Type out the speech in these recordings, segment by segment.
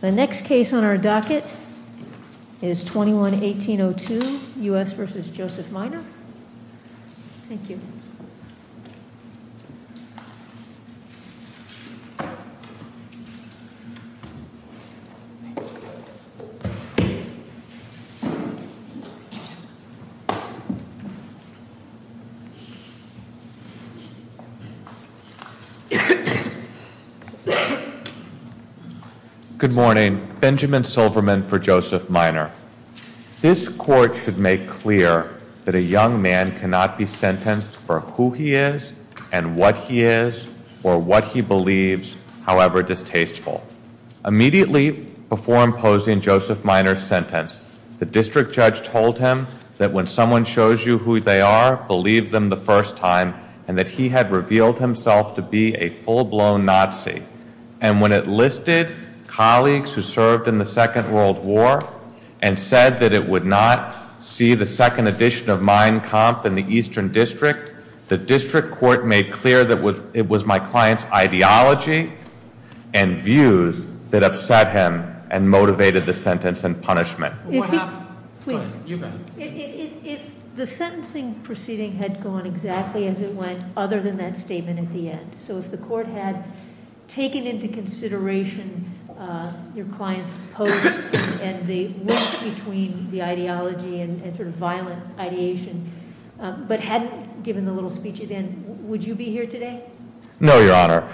The next case on our docket is 21-1802 U.S. v. Joseph Miner. Good morning. Benjamin Silverman for Joseph Miner. This court should make clear that a young man cannot be sentenced for who he is and what he is or what he believes, however distasteful. Immediately before imposing Joseph Miner's sentence, the district judge told him that when someone shows you who they are, believe them the first time, and that he had revealed himself to be a full-blown Nazi. And when it listed colleagues who served in the Second World War and said that it would not see the second edition of Mein Kampf in the Eastern District, the district court made clear that it was my client's ideology and views that upset him and motivated the sentence and punishment. What happened? Please, you go. If the sentencing proceeding had gone exactly as it went other than that statement at the end, so if the court had taken into consideration your client's posts and the link between the ideology and sort of violent ideation, but hadn't given the little speech at the end, would you be here today? No, Your Honor.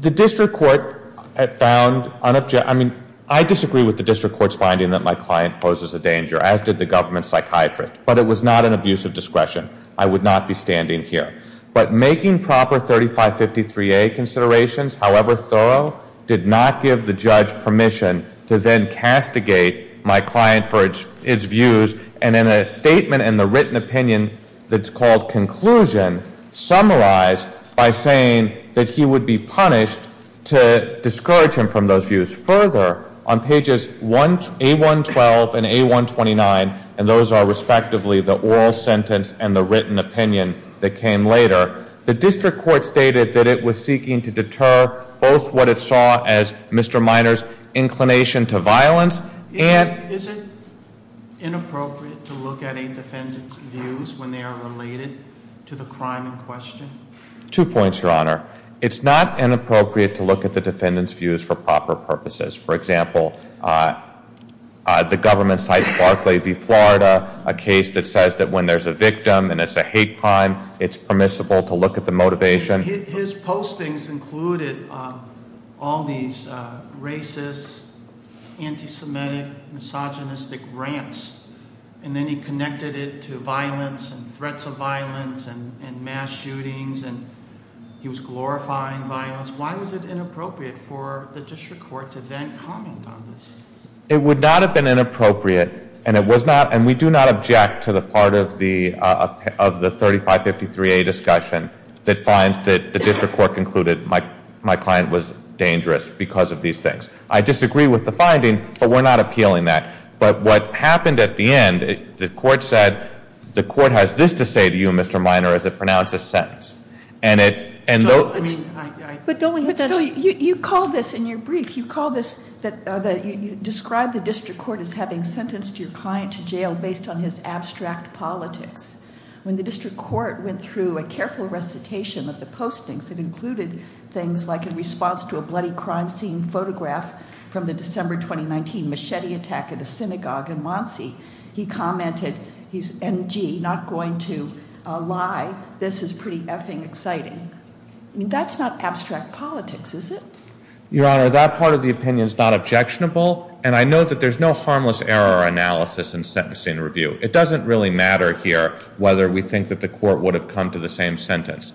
The district court had found unobject- I mean, I disagree with the district court's finding that my client poses a danger, as did the government psychiatrist. But it was not an abuse of discretion. I would not be standing here. But making proper 3553A considerations, however thorough, did not give the judge permission to then castigate my client for its views, and in a statement in the written opinion that's called conclusion, summarized by saying that he would be punished to discourage him from those views. Further, on pages A112 and A129, and those are respectively the oral sentence and the written opinion that came later, the district court stated that it was seeking to deter both what it saw as Mr. Minor's inclination to violence and- Is it inappropriate to look at a defendant's views when they are related to the crime in question? Two points, Your Honor. It's not inappropriate to look at the defendant's views for proper purposes. For example, the government cites Barclay v. Florida, a case that says that when there's a victim and it's a hate crime, it's permissible to look at the motivation. His postings included all these racist, anti-Semitic, misogynistic rants. And then he connected it to violence and threats of violence and mass shootings, and he was glorifying violence. Why was it inappropriate for the district court to then comment on this? It would not have been inappropriate, and we do not object to the part of the 3553A discussion that finds that the district court concluded my client was dangerous because of these things. I disagree with the finding, but we're not appealing that. But what happened at the end, the court said, the court has this to say to you, Mr. Minor, as it pronounces sentence. And it- But don't we have that- But still, you call this, in your brief, you call this, you describe the district court as having sentenced your client to jail based on his abstract politics. When the district court went through a careful recitation of the postings, it included things like in response to a bloody crime scene photograph from the December 2019 machete attack at a synagogue in Monsey. He commented, he's M.G., not going to lie. This is pretty effing exciting. I mean, that's not abstract politics, is it? Your Honor, that part of the opinion is not objectionable, and I note that there's no harmless error analysis in sentencing review. It doesn't really matter here whether we think that the court would have come to the same sentence.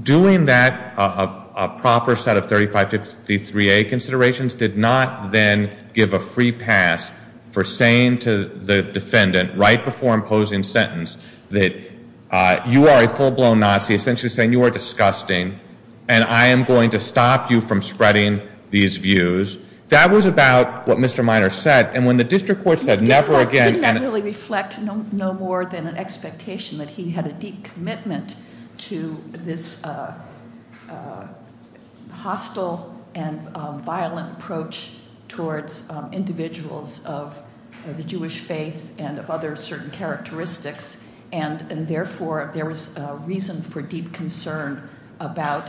Doing that, a proper set of 3553A considerations, did not then give a free pass for saying to the defendant, right before imposing sentence, that you are a full-blown Nazi, essentially saying you are disgusting and I am going to stop you from spreading these views. That was about what Mr. Minor said. And when the district court said never again- Didn't that really reflect no more than an expectation that he had a deep commitment to this hostile and violent approach towards individuals of the Jewish faith and of other certain characteristics. And therefore, there was reason for deep concern about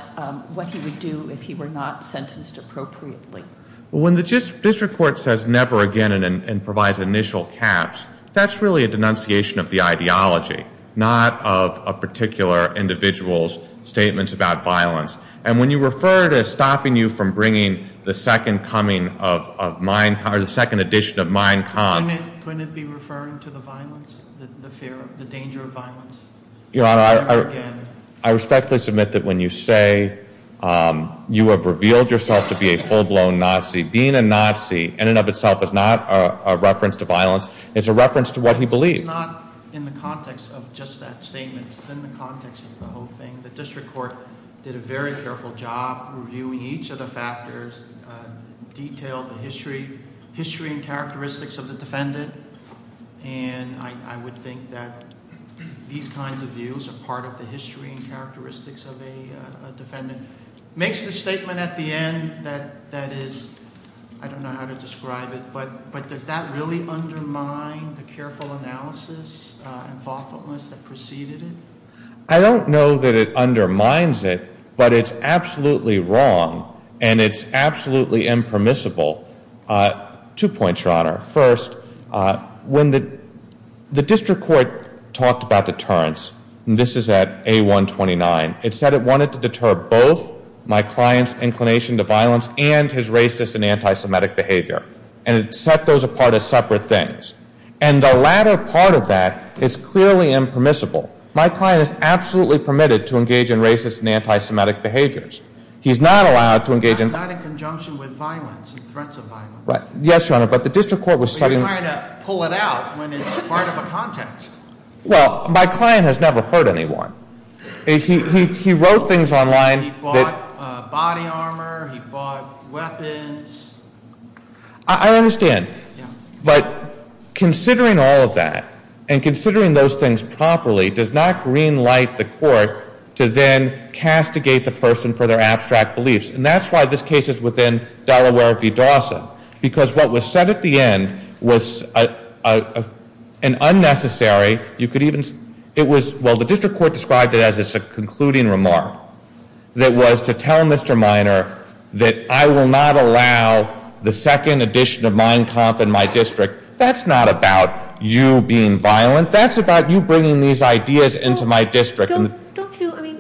what he would do if he were not sentenced appropriately. When the district court says never again and provides initial caps, that's really a denunciation of the ideology, not of a particular individual's statements about violence. And when you refer to stopping you from bringing the second coming of, or the second edition of Mein Kampf- Couldn't it be referring to the violence, the fear, the danger of violence? Your Honor, I respectfully submit that when you say you have revealed yourself to be a full-blown Nazi, being a Nazi in and of itself is not a reference to violence. It's a reference to what he believed. It's not in the context of just that statement. It's in the context of the whole thing. The district court did a very careful job reviewing each of the factors, detailed the history and characteristics of the defendant, and I would think that these kinds of views are part of the history and characteristics of a defendant. Makes the statement at the end that is, I don't know how to describe it, but does that really undermine the careful analysis and thoughtfulness that preceded it? I don't know that it undermines it, but it's absolutely wrong and it's absolutely impermissible. Two points, Your Honor. First, when the district court talked about deterrence, and this is at A129, it said it wanted to deter both my client's inclination to violence and his racist and anti-Semitic behavior, and it set those apart as separate things. And the latter part of that is clearly impermissible. My client is absolutely permitted to engage in racist and anti-Semitic behaviors. He's not allowed to engage in- Not in conjunction with violence and threats of violence. Yes, Your Honor, but the district court was- But you're trying to pull it out when it's part of a context. Well, my client has never hurt anyone. He wrote things online that- He bought body armor. He bought weapons. I understand. Yeah. But considering all of that, and considering those things properly, does not green light the court to then castigate the person for their abstract beliefs. And that's why this case is within Delaware v. Dawson, because what was said at the end was an unnecessary- It was- Well, the district court described it as a concluding remark that was to tell Mr. Minor that I will not allow the second edition of Mein Kampf in my district. That's not about you being violent. That's about you bringing these ideas into my district. Don't you- I mean,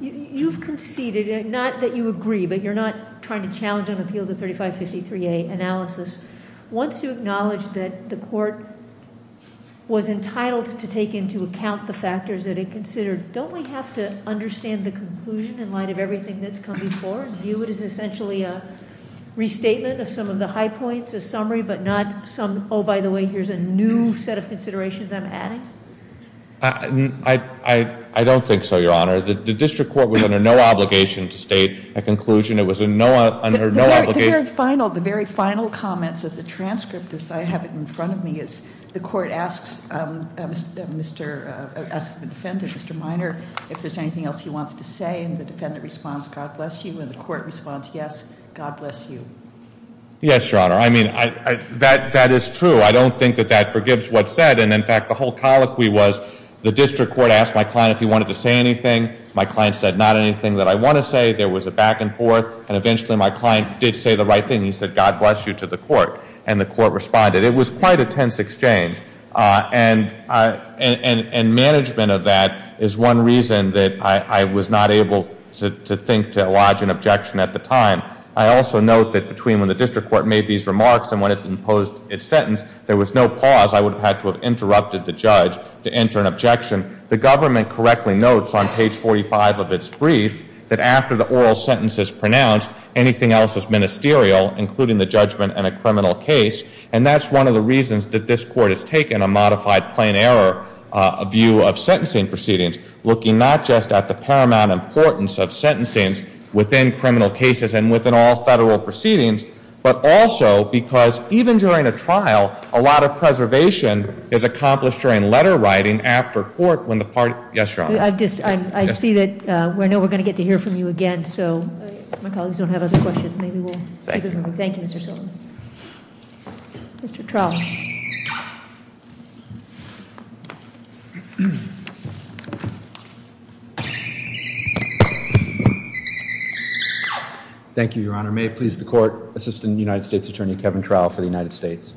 you've conceded, not that you agree, but you're not trying to challenge and appeal the 3553A analysis. Once you acknowledge that the court was entitled to take into account the factors that it considered, don't we have to understand the conclusion in light of everything that's come before and view it as essentially a restatement of some of the high points, a summary, but not some, oh, by the way, here's a new set of considerations I'm adding? I don't think so, Your Honor. The district court was under no obligation to state a conclusion. It was under no obligation- The very final comments of the transcript, as I have it in front of me, is the court asks the defendant, Mr. Minor, if there's anything else he wants to say, and the defendant responds, God bless you, and the court responds, yes, God bless you. Yes, Your Honor. I mean, that is true. I don't think that that forgives what's said, and, in fact, the whole colloquy was the district court asked my client if he wanted to say anything. My client said not anything that I want to say. There was a back and forth, and eventually my client did say the right thing. He said, God bless you, to the court, and the court responded. It was quite a tense exchange, and management of that is one reason that I was not able to think to alloge an objection at the time. I also note that between when the district court made these remarks and when it imposed its sentence, there was no pause. I would have had to have interrupted the judge to enter an objection. The government correctly notes on page 45 of its brief that after the oral sentence is pronounced, anything else is ministerial, including the judgment in a criminal case, and that's one of the reasons that this court has taken a modified plain error view of sentencing proceedings, looking not just at the paramount importance of sentencing within criminal cases and within all federal proceedings, but also because even during a trial, a lot of preservation is accomplished during letter writing after court when the party. Yes, Your Honor. I see that. I know we're going to get to hear from you again, so my colleagues don't have other questions. Thank you. Thank you, Mr. Sullivan. Mr. Trout. Thank you, Your Honor. May it please the court, Assistant United States Attorney Kevin Trout for the United States.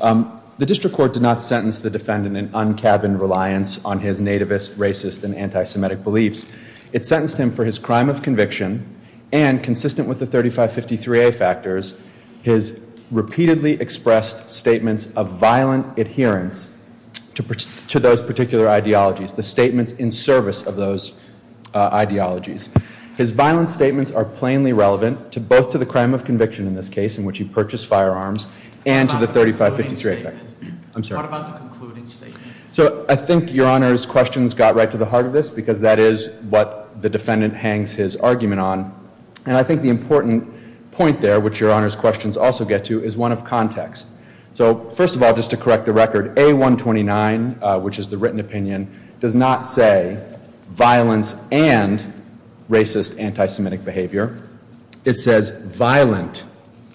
The district court did not sentence the defendant in un-cabin reliance on his nativist, racist, and anti-Semitic beliefs. It sentenced him for his crime of conviction and, consistent with the 3553A factors, his repeatedly expressed statements of violent adherence to those particular ideologies, the statements in service of those ideologies. His violent statements are plainly relevant both to the crime of conviction in this case, in which he purchased firearms, and to the 3553A factors. I'm sorry. What about the concluding statement? So I think Your Honor's questions got right to the heart of this, because that is what the defendant hangs his argument on. And I think the important point there, which Your Honor's questions also get to, is one of context. So first of all, just to correct the record, A129, which is the written opinion, does not say violence and racist, anti-Semitic behavior. It says violent,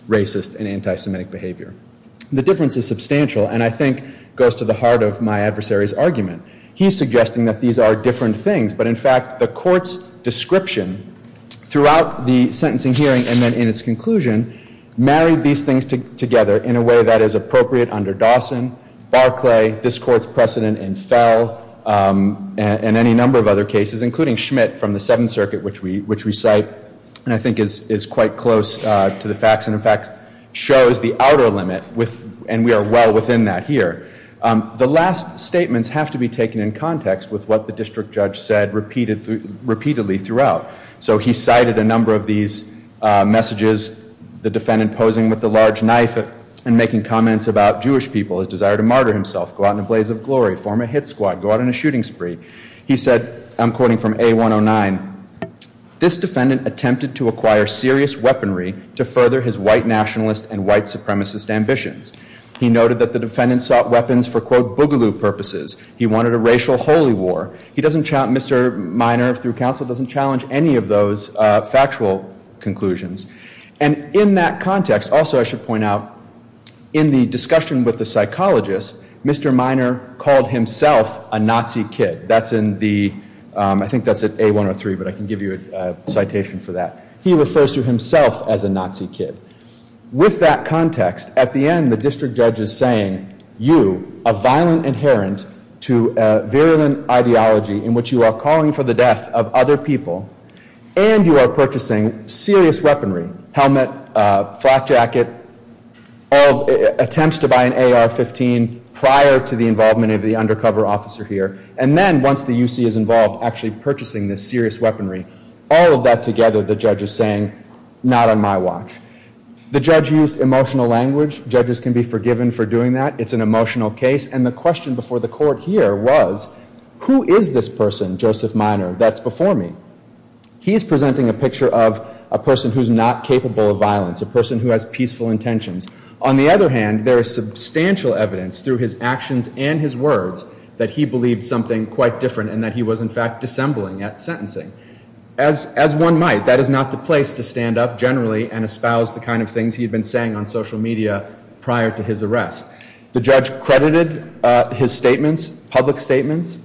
racist, and anti-Semitic behavior. The difference is substantial and I think goes to the heart of my adversary's argument. He's suggesting that these are different things, but in fact, the court's description throughout the sentencing hearing and then in its conclusion married these things together in a way that is appropriate under Dawson, Barclay, this court's precedent in Fell, and any number of other cases, including Schmidt from the Seventh Circuit, which we cite, and I think is quite close to the facts, and in fact, shows the outer limit, and we are well within that here. The last statements have to be taken in context with what the district judge said repeatedly throughout. So he cited a number of these messages, the defendant posing with a large knife and making comments about Jewish people, his desire to martyr himself, go out in a blaze of glory, form a hit squad, go out in a shooting spree. He said, I'm quoting from A109, this defendant attempted to acquire serious weaponry to further his white nationalist and white supremacist ambitions. He noted that the defendant sought weapons for, quote, boogaloo purposes. He wanted a racial holy war. He doesn't, Mr. Minor, through counsel, doesn't challenge any of those factual conclusions. And in that context, also I should point out, in the discussion with the psychologist, Mr. Minor called himself a Nazi kid. That's in the, I think that's in A103, but I can give you a citation for that. He refers to himself as a Nazi kid. With that context, at the end, the district judge is saying, you, a violent inherent to virulent ideology in which you are calling for the death of other people, and you are purchasing serious weaponry, helmet, flak jacket, all attempts to buy an AR-15 prior to the involvement of the undercover officer here. And then once the UC is involved, actually purchasing this serious weaponry, all of that together, the judge is saying, not on my watch. The judge used emotional language. Judges can be forgiven for doing that. It's an emotional case. And the question before the court here was, who is this person, Joseph Minor, that's before me? He's presenting a picture of a person who's not capable of violence, a person who has peaceful intentions. On the other hand, there is substantial evidence through his actions and his words that he believed something quite different and that he was, in fact, dissembling at sentencing. As one might, that is not the place to stand up generally and espouse the kind of things he had been saying on social media prior to his arrest. The judge credited his statements, public statements,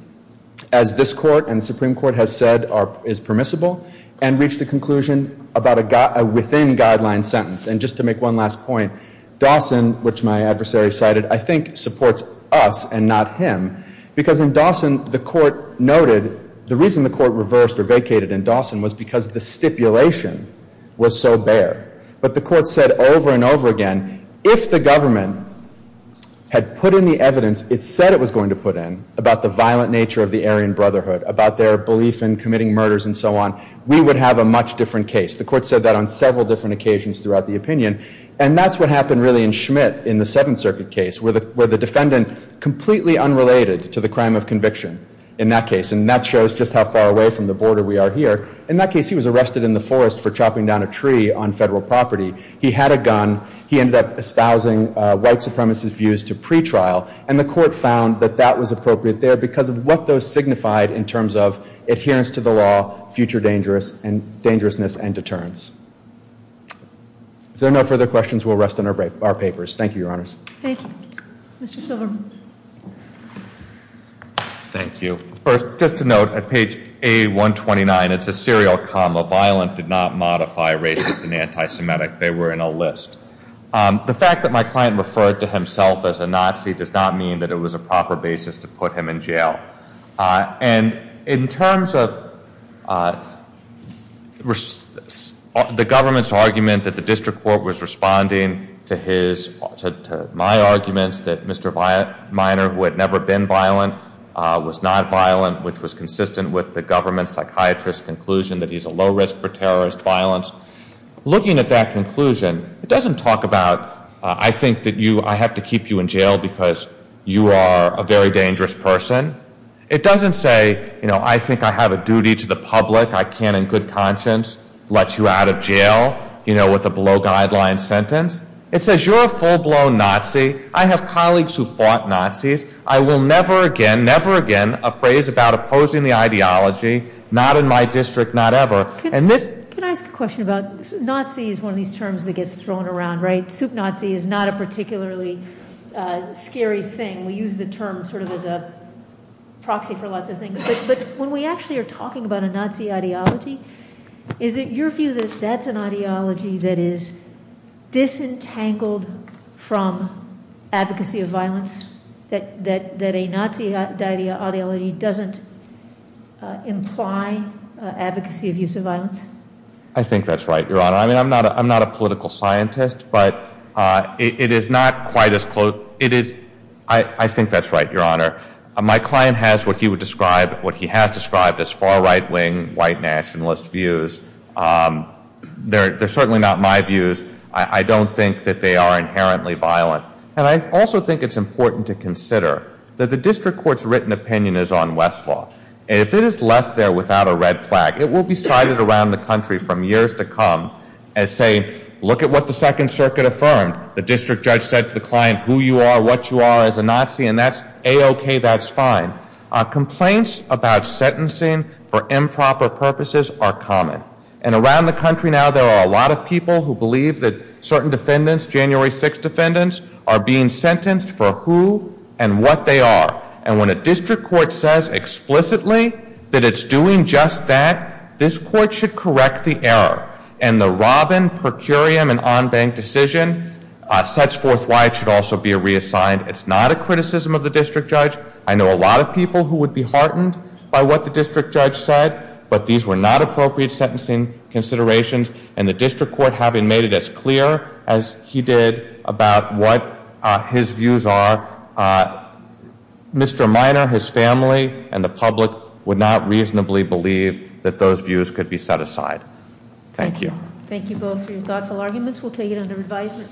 as this court and the Supreme Court has said is permissible, and reached a conclusion about a within-guideline sentence. And just to make one last point, Dawson, which my adversary cited, I think supports us and not him because in Dawson, the court noted, the reason the court reversed or vacated in Dawson was because the stipulation was so bare. But the court said over and over again, if the government had put in the evidence it said it was going to put in about the violent nature of the Aryan Brotherhood, about their belief in committing murders and so on, we would have a much different case. The court said that on several different occasions throughout the opinion. And that's what happened really in Schmidt in the Seventh Circuit case where the defendant completely unrelated to the crime of conviction in that case. And that shows just how far away from the border we are here. In that case, he was arrested in the forest for chopping down a tree on federal property. He had a gun. He ended up espousing white supremacist views to pretrial. And the court found that that was appropriate there because of what those signified in terms of adherence to the law, future dangerousness, and deterrence. If there are no further questions, we'll rest on our papers. Thank you, Your Honors. Thank you. Mr. Silverman. Thank you. First, just to note, at page A129, it's a serial comma. Violent did not modify racist and anti-Semitic. They were in a list. The fact that my client referred to himself as a Nazi does not mean that it was a proper basis to put him in jail. And in terms of the government's argument that the district court was responding to my arguments that Mr. Minor, who had never been violent, was not violent, which was consistent with the government psychiatrist's conclusion that he's a low risk for terrorist violence. Looking at that conclusion, it doesn't talk about I think that I have to keep you in jail because you are a very dangerous person. It doesn't say, you know, I think I have a duty to the public. I can in good conscience let you out of jail, you know, with a below guideline sentence. It says you're a full blown Nazi. I have colleagues who fought Nazis. I will never again, never again, appraise about opposing the ideology, not in my district, not ever. And this- Can I ask a question about, Nazi is one of these terms that gets thrown around, right? Sup Nazi is not a particularly scary thing. We use the term sort of as a proxy for lots of things. But when we actually are talking about a Nazi ideology, is it your view that that's an ideology that is disentangled from advocacy of violence? That a Nazi ideology doesn't imply advocacy of use of violence? I think that's right, Your Honor. I mean, I'm not a political scientist, but it is not quite as close- I think that's right, Your Honor. My client has what he would describe, what he has described as far right wing, white nationalist views. They're certainly not my views. I don't think that they are inherently violent. And I also think it's important to consider that the district court's written opinion is on Westlaw. And if it is left there without a red flag, it will be cited around the country from years to come as saying, look at what the Second Circuit affirmed. The district judge said to the client who you are, what you are as a Nazi, and that's A-OK, that's fine. Complaints about sentencing for improper purposes are common. And around the country now, there are a lot of people who believe that certain defendants, January 6th defendants, are being sentenced for who and what they are. And when a district court says explicitly that it's doing just that, this court should correct the error. And the Robin, per curiam, and en banc decision sets forth why it should also be reassigned. It's not a criticism of the district judge. I know a lot of people who would be heartened by what the district judge said, but these were not appropriate sentencing considerations. And the district court, having made it as clear as he did about what his views are, Mr. Minor, his family, and the public would not reasonably believe that those views could be set aside. Thank you. Thank you both for your thoughtful arguments. We'll take it under advisement.